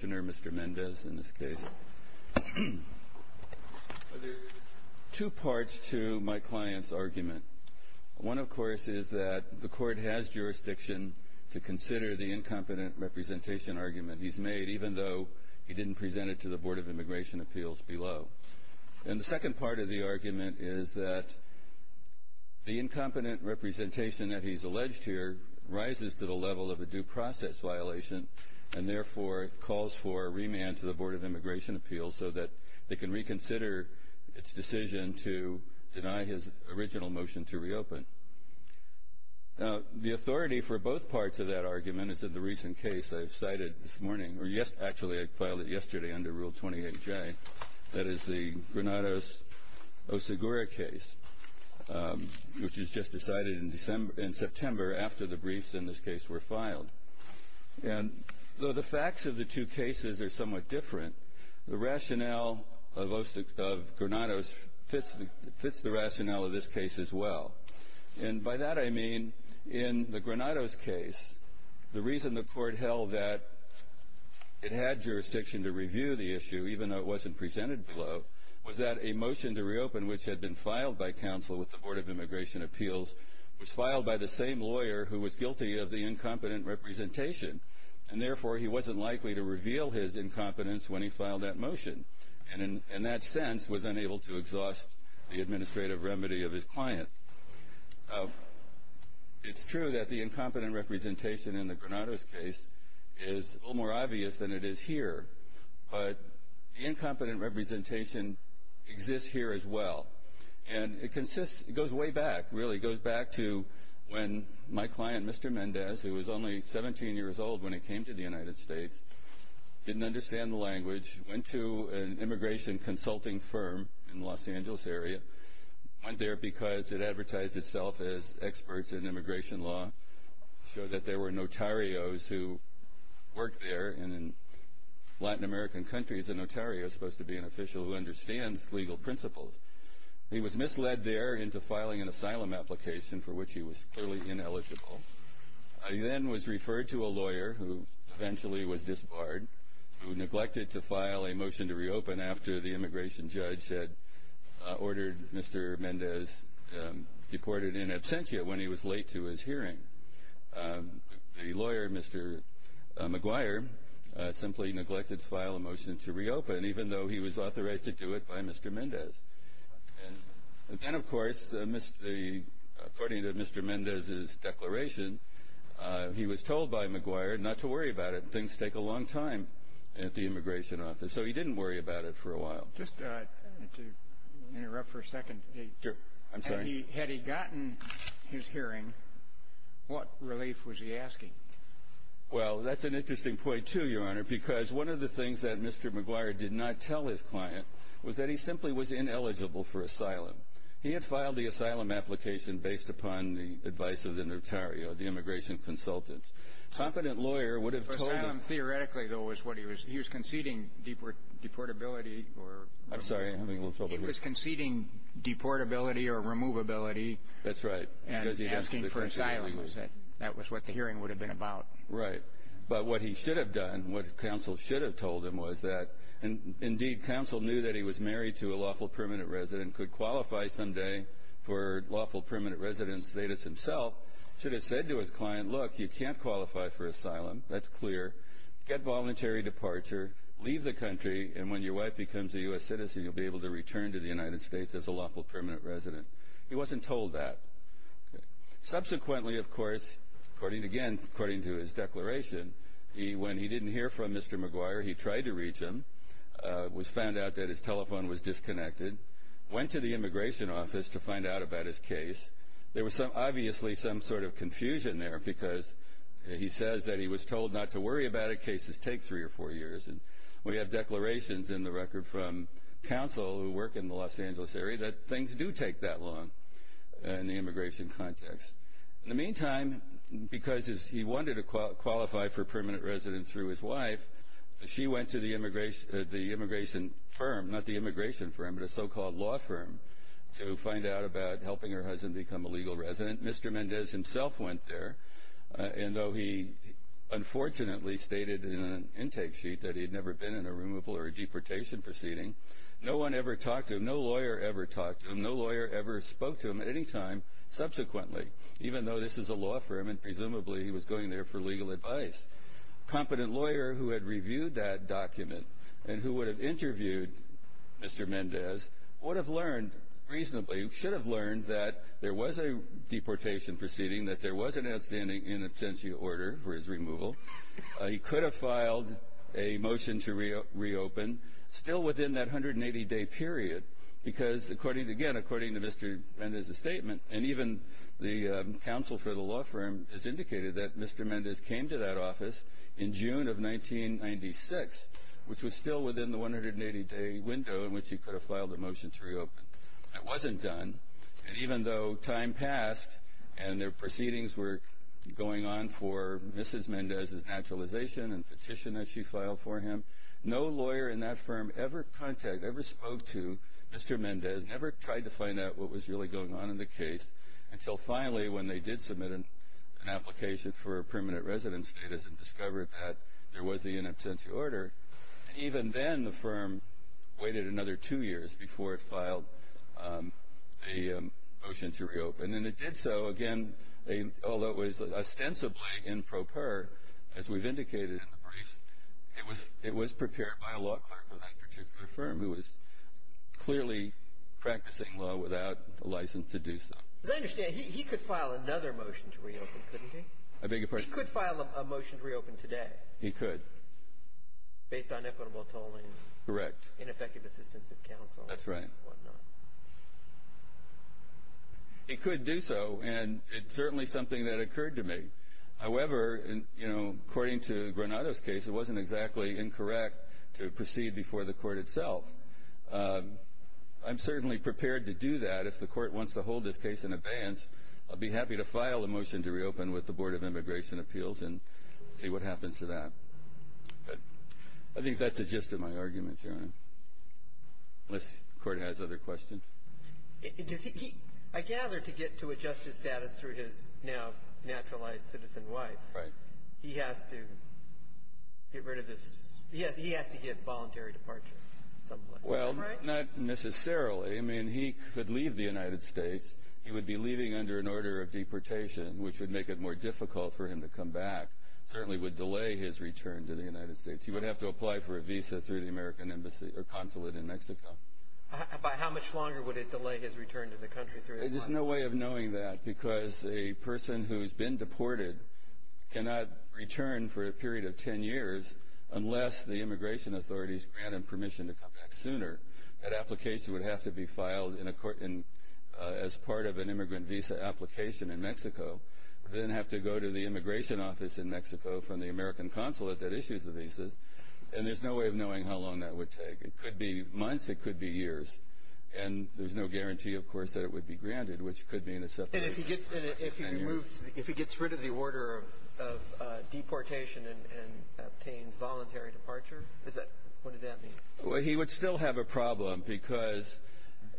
in this case. There are two parts to my client's argument. One, of course, is that the court has jurisdiction to consider the incompetent representation argument he's made, even though he didn't present it to the Board of Immigration Appeals below. And the second part of the argument is that the incompetent representation that he's alleged here rises to the level of a due process violation and, therefore, calls for a remand to the Board of Immigration Appeals so that they can reconsider its decision to deny his original motion to reopen. The authority for both parts of that argument is that the recent case I've cited this morning or actually I filed it yesterday under Rule 28J, that is the Granados-Osagura case, which is just decided in September after the briefs in this case were filed. And though the facts of the two cases are somewhat different, the rationale of Granados fits the rationale of this case as well. And by that I mean in the Granados case, the reason the court held that it had jurisdiction to review the issue, even though it wasn't presented below, was that a motion to reopen which had been filed by counsel with the Board of Immigration Appeals was filed by the same lawyer who was guilty of the incompetent representation. And, therefore, he wasn't likely to reveal his incompetence when he filed that motion and in that sense was unable to exhaust the administrative remedy of his client. It's true that the incompetent representation in the Granados case is a little more obvious than it is here, but the incompetent representation exists here as well. And it consists, it goes way back, really, it goes back to when my client, Mr. Mendez, who was only 17 years old when he came to the United States, didn't understand the language, went to an immigration consulting firm in the Los Angeles area, went there because it advertised itself as experts in immigration law, showed that there were notarios who worked there, and in Latin American countries a notario is supposed to be an official who understands legal principles. He was misled there into filing an asylum application for which he was clearly ineligible. He then was referred to a lawyer who eventually was disbarred, who neglected to file a motion to reopen after the immigration judge had ordered Mr. Mendez deported in absentia when he was late to his hearing. The lawyer, Mr. McGuire, simply neglected to file a motion to reopen even though he was authorized to do it by Mr. Mendez. And then, of course, according to Mr. Mendez's declaration, he was told by McGuire not to worry about it. Things take a long time at the immigration office, so he didn't worry about it for a while. Just to interrupt for a second. Sure. I'm sorry. Had he gotten his hearing, what relief was he asking? Well, that's an interesting point, too, Your Honor, because one of the things that Mr. McGuire did not tell his client was that he simply was ineligible for asylum. He had filed the asylum application based upon the advice of the notario, the immigration consultant. Competent lawyer would have told him... He was conceding deportability or... I'm sorry. I'm having a little trouble here. He was conceding deportability or removability... That's right. ...and asking for asylum. That was what the hearing would have been about. Right. But what he should have done, what counsel should have told him was that, indeed, counsel knew that he was married to a lawful permanent resident, could qualify someday for lawful permanent residence. Davis himself should have said to his client, look, you leave the country, and when your wife becomes a U.S. citizen, you'll be able to return to the United States as a lawful permanent resident. He wasn't told that. Subsequently, of course, according again, according to his declaration, when he didn't hear from Mr. McGuire, he tried to reach him, was found out that his telephone was disconnected, went to the immigration office to find out about his case. There was obviously some sort of confusion there because he says that he was told not to worry about it. Cases take three or four years. We have declarations in the record from counsel who work in the Los Angeles area that things do take that long in the immigration context. In the meantime, because he wanted to qualify for permanent residence through his wife, she went to the immigration firm, not the immigration firm, but a so-called law firm, to find out about helping her husband become a legal resident. Mr. Mendez himself went there, and though he unfortunately stated in an intake sheet that he had never been in a removal or a deportation proceeding, no one ever talked to him, no lawyer ever talked to him, no lawyer ever spoke to him at any time subsequently, even though this is a law firm and presumably he was going there for legal advice. A competent lawyer who had reviewed that document and who would have interviewed Mr. Mendez would have learned reasonably, should have learned that there was a deportation proceeding, that there was an outstanding in absentia order for his removal. He could have filed a motion to reopen still within that 180-day period because, again, according to Mr. Mendez's statement and even the counsel for the law firm has indicated that Mr. Mendez came to that office in June of 1996, which was still within the 180-day window in which he could have filed a motion to reopen. That wasn't done, and even though time passed and their proceedings were going on for Mrs. Mendez's naturalization and petition that she filed for him, no lawyer in that firm ever contacted, ever spoke to Mr. Mendez, never tried to find out what was really going on in the case until finally when they did submit an application for a permanent residence status and discovered that there was an in absentia order. And even then the firm waited another two years before it filed a motion to reopen, and it did so, again, although it was ostensibly improper, as we've indicated in the briefs, it was prepared by a law clerk for that particular firm who was clearly practicing law without a license to do so. I understand he could file another motion to reopen, couldn't he? I beg your pardon? He could file a motion to reopen today. He could. Based on equitable tolling. Correct. And effective assistance of counsel. That's right. And whatnot. He could do so, and it's certainly something that occurred to me. However, according to Granado's case, it wasn't exactly incorrect to proceed before the court itself. I'm certainly prepared to do that if the court wants to hold this case in abeyance. I'll be happy to file a motion to reopen with the Board of Immigration Appeals and see what happens to that. Good. I think that's the gist of my argument, Your Honor, unless the Court has other questions. I gather to get to a justice status through his now naturalized citizen wife, he has to get rid of this. He has to get voluntary departure. Well, not necessarily. I mean, he could leave the United States. He would be leaving under an order of deportation, which would make it more difficult for him to come back, certainly would delay his return to the United States. He would have to apply for a visa through the American embassy or consulate in Mexico. By how much longer would it delay his return to the country? There's no way of knowing that because a person who's been deported cannot return for a period of 10 years unless the immigration authorities grant him permission to come back sooner. That application would have to be filed as part of an immigrant visa application in Mexico. Then have to go to the immigration office in Mexico from the American consulate that issues the visa. And there's no way of knowing how long that would take. It could be months. It could be years. And there's no guarantee, of course, that it would be granted, which could be in a separate case. And if he gets rid of the order of deportation and obtains voluntary departure, what does that mean? He would still have a problem because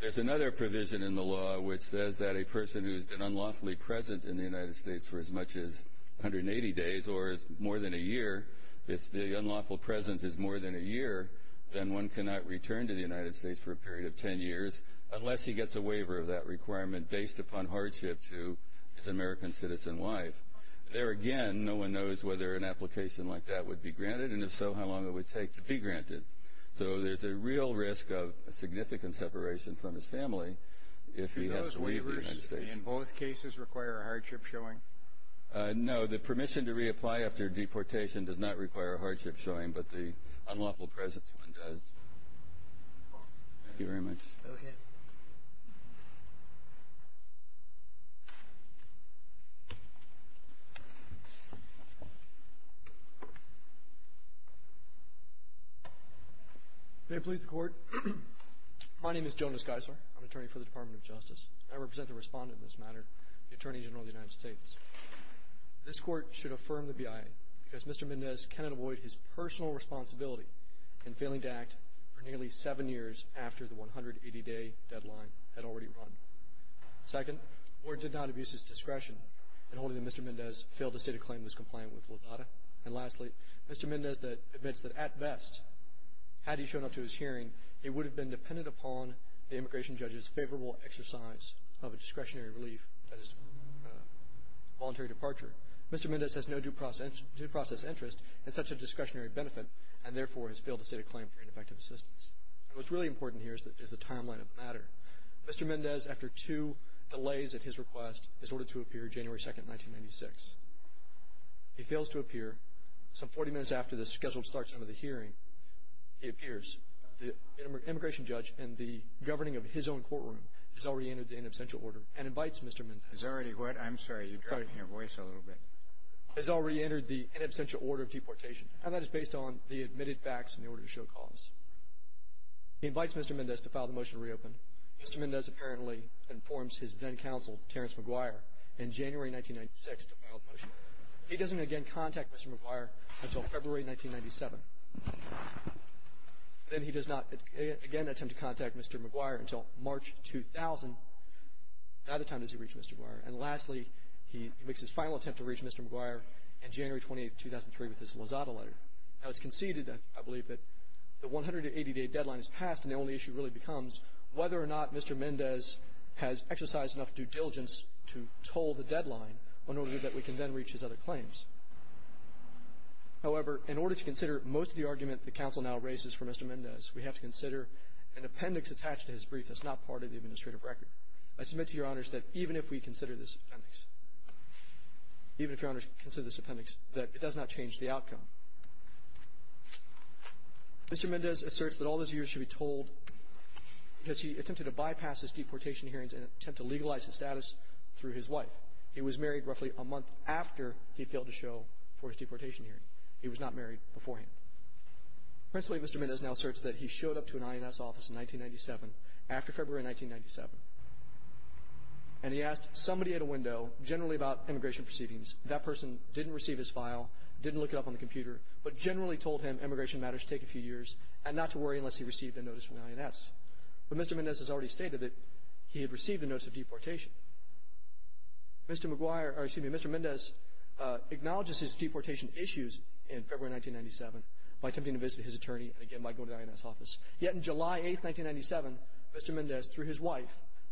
there's another provision in the law which says that if a person who's been unlawfully present in the United States for as much as 180 days or more than a year, if the unlawful presence is more than a year, then one cannot return to the United States for a period of 10 years unless he gets a waiver of that requirement based upon hardship to his American citizen wife. There again, no one knows whether an application like that would be granted, and if so, how long it would take to be granted. So there's a real risk of a significant separation from his family if he has to leave the United States. Do those waivers in both cases require a hardship showing? No. The permission to reapply after deportation does not require a hardship showing, but the unlawful presence one does. Thank you very much. May it please the Court. My name is Jonas Geisler. I'm an attorney for the Department of Justice. I represent the respondent in this matter, the Attorney General of the United States. This Court should affirm the BIA because Mr. Mendez cannot avoid his personal responsibility in failing to act for nearly seven years after the 180-day deadline had already run. Second, the Court did not abuse his discretion in holding that Mr. Mendez failed to state a claim in his complaint with Lazada. And lastly, Mr. Mendez admits that, at best, had he shown up to his hearing, he would have been dependent upon the immigration judge's favorable exercise of a discretionary relief, that is, voluntary departure. Mr. Mendez has no due process interest in such a discretionary benefit and, therefore, has failed to state a claim for ineffective assistance. What's really important here is the timeline of the matter. Mr. Mendez, after two delays at his request, is ordered to appear January 2, 1996. He fails to appear. Some 40 minutes after the scheduled start time of the hearing, he appears. The immigration judge, in the governing of his own courtroom, has already entered the in absentia order and invites Mr. Mendez. Has already what? I'm sorry, you're dropping your voice a little bit. Has already entered the in absentia order of deportation, and that is based on the admitted facts in the order to show cause. He invites Mr. Mendez to file the motion to reopen. Mr. Mendez apparently informs his then-counsel, Terrence McGuire, in January 1996, he doesn't again contact Mr. McGuire until February 1997. Then he does not again attempt to contact Mr. McGuire until March 2000. Neither time does he reach Mr. McGuire. And lastly, he makes his final attempt to reach Mr. McGuire in January 28, 2003, with his Lozada letter. Now, it's conceded, I believe, that the 180-day deadline is passed, and the only issue really becomes whether or not Mr. Mendez has exercised enough due diligence to toll the deadline in order that we can then reach his other claims. However, in order to consider most of the argument the counsel now raises for Mr. Mendez, we have to consider an appendix attached to his brief that's not part of the administrative record. I submit to Your Honors that even if we consider this appendix, even if Your Honors consider this appendix, that it does not change the outcome. Mr. Mendez asserts that all those years should be told because he attempted to bypass his deportation hearings and attempt to legalize his status through his wife. He was married roughly a month after he failed to show for his deportation hearing. He was not married beforehand. Principally, Mr. Mendez now asserts that he showed up to an INS office in 1997, after February 1997, and he asked somebody at a window, generally about immigration proceedings. That person didn't receive his file, didn't look it up on the computer, but generally told him immigration matters should take a few years and not to worry unless he received a notice from the INS. But Mr. Mendez has already stated that he had received a notice of deportation. Mr. McGuire or, excuse me, Mr. Mendez acknowledges his deportation issues in February 1997 by attempting to visit his attorney and, again, by going to the INS office. Yet in July 8, 1997, Mr. Mendez, through his wife,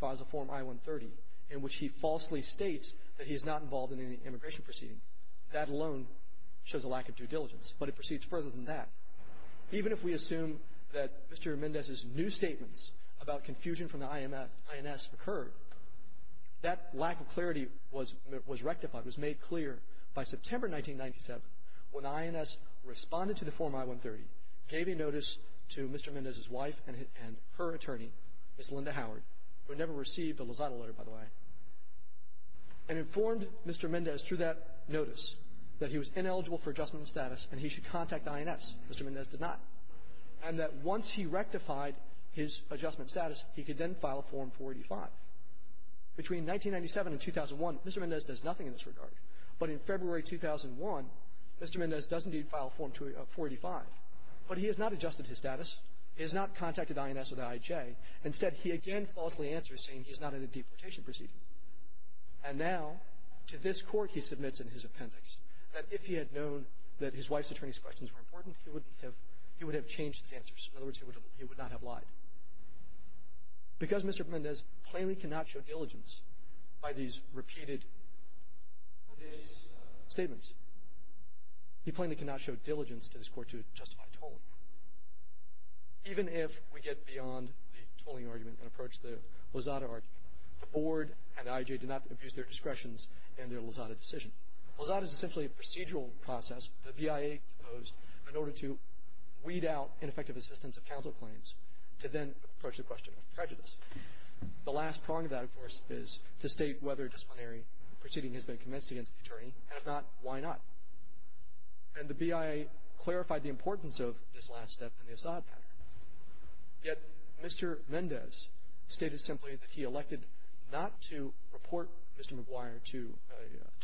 files a Form I-130 in which he falsely states that he is not involved in any immigration proceeding. That alone shows a lack of due diligence. But it proceeds further than that. Even if we assume that Mr. Mendez's new statements about confusion from the INS occurred, that lack of clarity was rectified, was made clear, by September 1997, when the INS responded to the Form I-130, gave a notice to Mr. Mendez's wife and her attorney, Ms. Linda Howard, who had never received a Lozada letter, by the way, and informed Mr. Mendez through that Mr. Mendez did not. And that once he rectified his adjustment status, he could then file Form 485. Between 1997 and 2001, Mr. Mendez does nothing in this regard. But in February 2001, Mr. Mendez does indeed file Form 485. But he has not adjusted his status. He has not contacted INS or the IJ. Instead, he again falsely answers, saying he's not in a deportation proceeding. And now, to this court, he submits in his appendix that if he had known that his wife's and her attorney's questions were important, he would have changed his answers. In other words, he would not have lied. Because Mr. Mendez plainly cannot show diligence by these repeated statements, he plainly cannot show diligence to this court to justify tolling. Even if we get beyond the tolling argument and approach the Lozada argument, the Board and the IJ do not abuse their discretions in their Lozada decision. Lozada is essentially a procedural process. The BIA proposed in order to weed out ineffective assistance of counsel claims to then approach the question of prejudice. The last prong of that, of course, is to state whether a disciplinary proceeding has been commenced against the attorney. And if not, why not? And the BIA clarified the importance of this last step in the Assad matter. Yet Mr. Mendez stated simply that he elected not to report Mr. Maguire to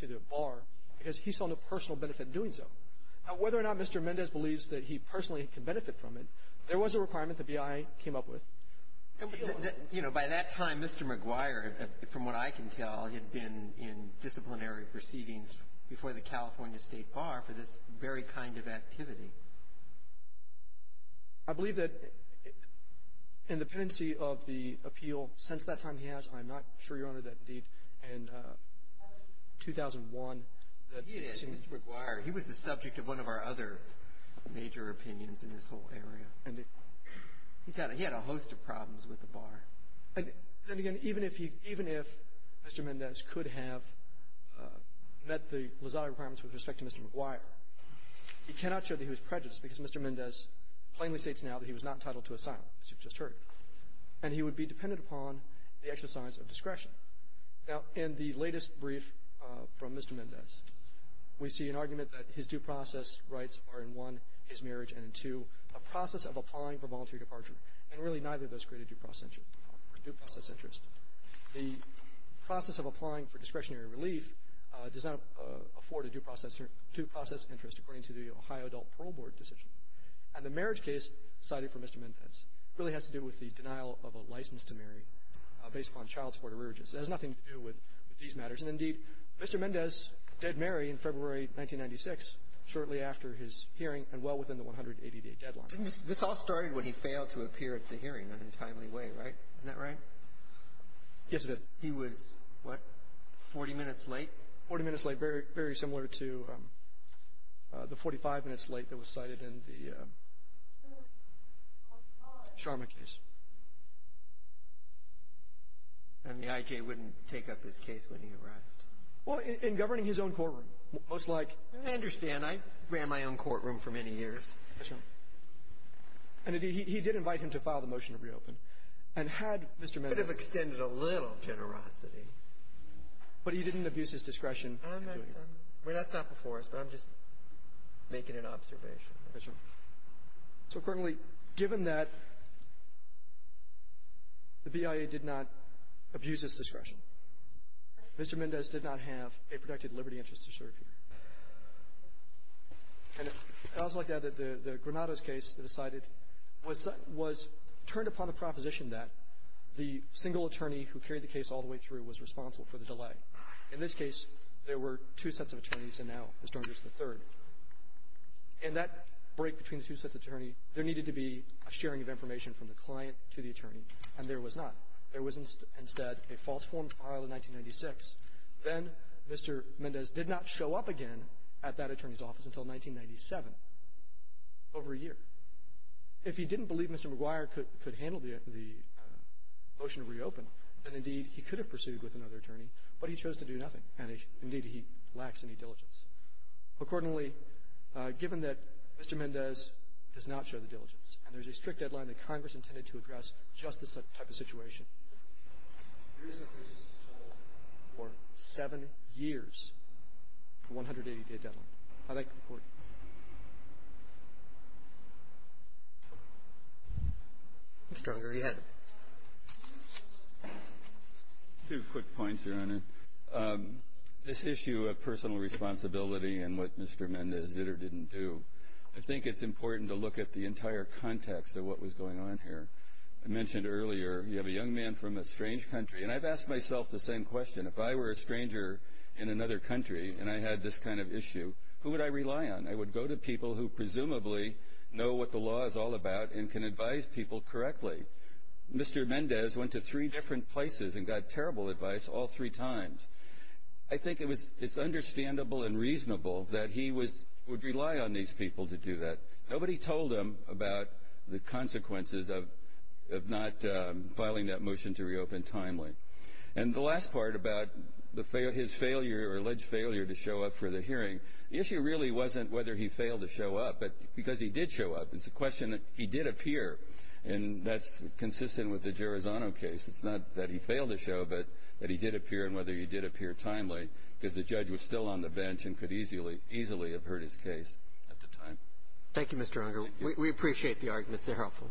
the bar because he saw no personal benefit in doing so. Now, whether or not Mr. Mendez believes that he personally can benefit from it, there was a requirement the BIA came up with. And by that time, Mr. Maguire, from what I can tell, had been in disciplinary proceedings before the California State Bar for this very kind of activity. I believe that in the pendency of the appeal since that time he has, I'm not sure, Your Honor, that indeed in 2001, that it seems to me he was the subject of one of our other major opinions in this whole area. And he's had a host of problems with the bar. And then again, even if he, even if Mr. Mendez could have met the Lozada requirements with respect to Mr. Maguire, he cannot show that he was prejudiced because Mr. Mendez plainly states now that he was not entitled to asylum, as you've just heard. And he would be dependent upon the exercise of discretion. Now, in the latest brief from Mr. Mendez, we see an argument that his due process rights are in one, his marriage, and in two, a process of applying for voluntary departure, and really neither of those create a due process interest. The process of applying for discretionary relief does not afford a due process interest according to the Ohio Adult Parole Board decision. And the marriage case cited for Mr. Mendez really has to do with the denial of a license to marry based upon child support arrearages. It has nothing to do with these matters. And indeed, Mr. Mendez did marry in February 1996, shortly after his hearing and well within the 180-day deadline. And this all started when he failed to appear at the hearing in a timely way, right? Isn't that right? Yes, it did. He was, what, 40 minutes late? 40 minutes late, very similar to the 45 minutes late that was cited in the Sharma case. And the I.J. wouldn't take up his case when he arrived? Well, in governing his own courtroom, most like. I understand. I ran my own courtroom for many years. And indeed, he did invite him to file the motion to reopen. And had Mr. Mendez. Could have extended a little generosity. But he didn't abuse his discretion? Well, that's not before us, but I'm just making an observation. So, accordingly, given that the BIA did not abuse his discretion, Mr. Mendez did not have a protected liberty interest to serve here. And I would like to add that the Granado's case that was cited was turned upon a proposition that the single attorney who carried the case all the way through was responsible for the delay. In this case, there were two sets of attorneys, and now Mr. Argyros is the third. In that break between the two sets of attorney, there needed to be a sharing of information from the client to the attorney, and there was not. There was instead a false form filed in 1996. Then Mr. Mendez did not show up again at that attorney's office until 1997, over a year. If he didn't believe Mr. McGuire could handle the motion to reopen, then, indeed, he could have pursued with another attorney, but he chose to do nothing, and, indeed, he lacks any diligence. Accordingly, given that Mr. Mendez does not show the diligence, and there's a strict deadline that Congress intended to address just this type of situation, there is no basis at all for seven years for a 180-day deadline. I thank the Court. Mr. Argyros, you had it. Two quick points, Your Honor. This issue of personal responsibility and what Mr. Mendez did or didn't do, I think it's important to look at the entire context of what was going on here. I mentioned earlier you have a young man from a strange country, and I've asked myself the same question. If I were a stranger in another country and I had this kind of issue, who would I rely on? I would go to people who presumably know what the law is all about and can advise people correctly. Mr. Mendez went to three different places and got terrible advice all three times. I think it's understandable and reasonable that he would rely on these people to do that. Nobody told him about the consequences of not filing that motion to reopen timely. And the last part about his failure or alleged failure to show up for the hearing, the issue really wasn't whether he failed to show up, but because he did show up. It's a question that he did appear, and that's consistent with the Gerozano case. It's not that he failed to show, but that he did appear and whether he did appear timely because the judge was still on the bench and could easily have heard his case at the time. Thank you, Mr. Argyros. We appreciate the arguments. They're helpful. Thank you.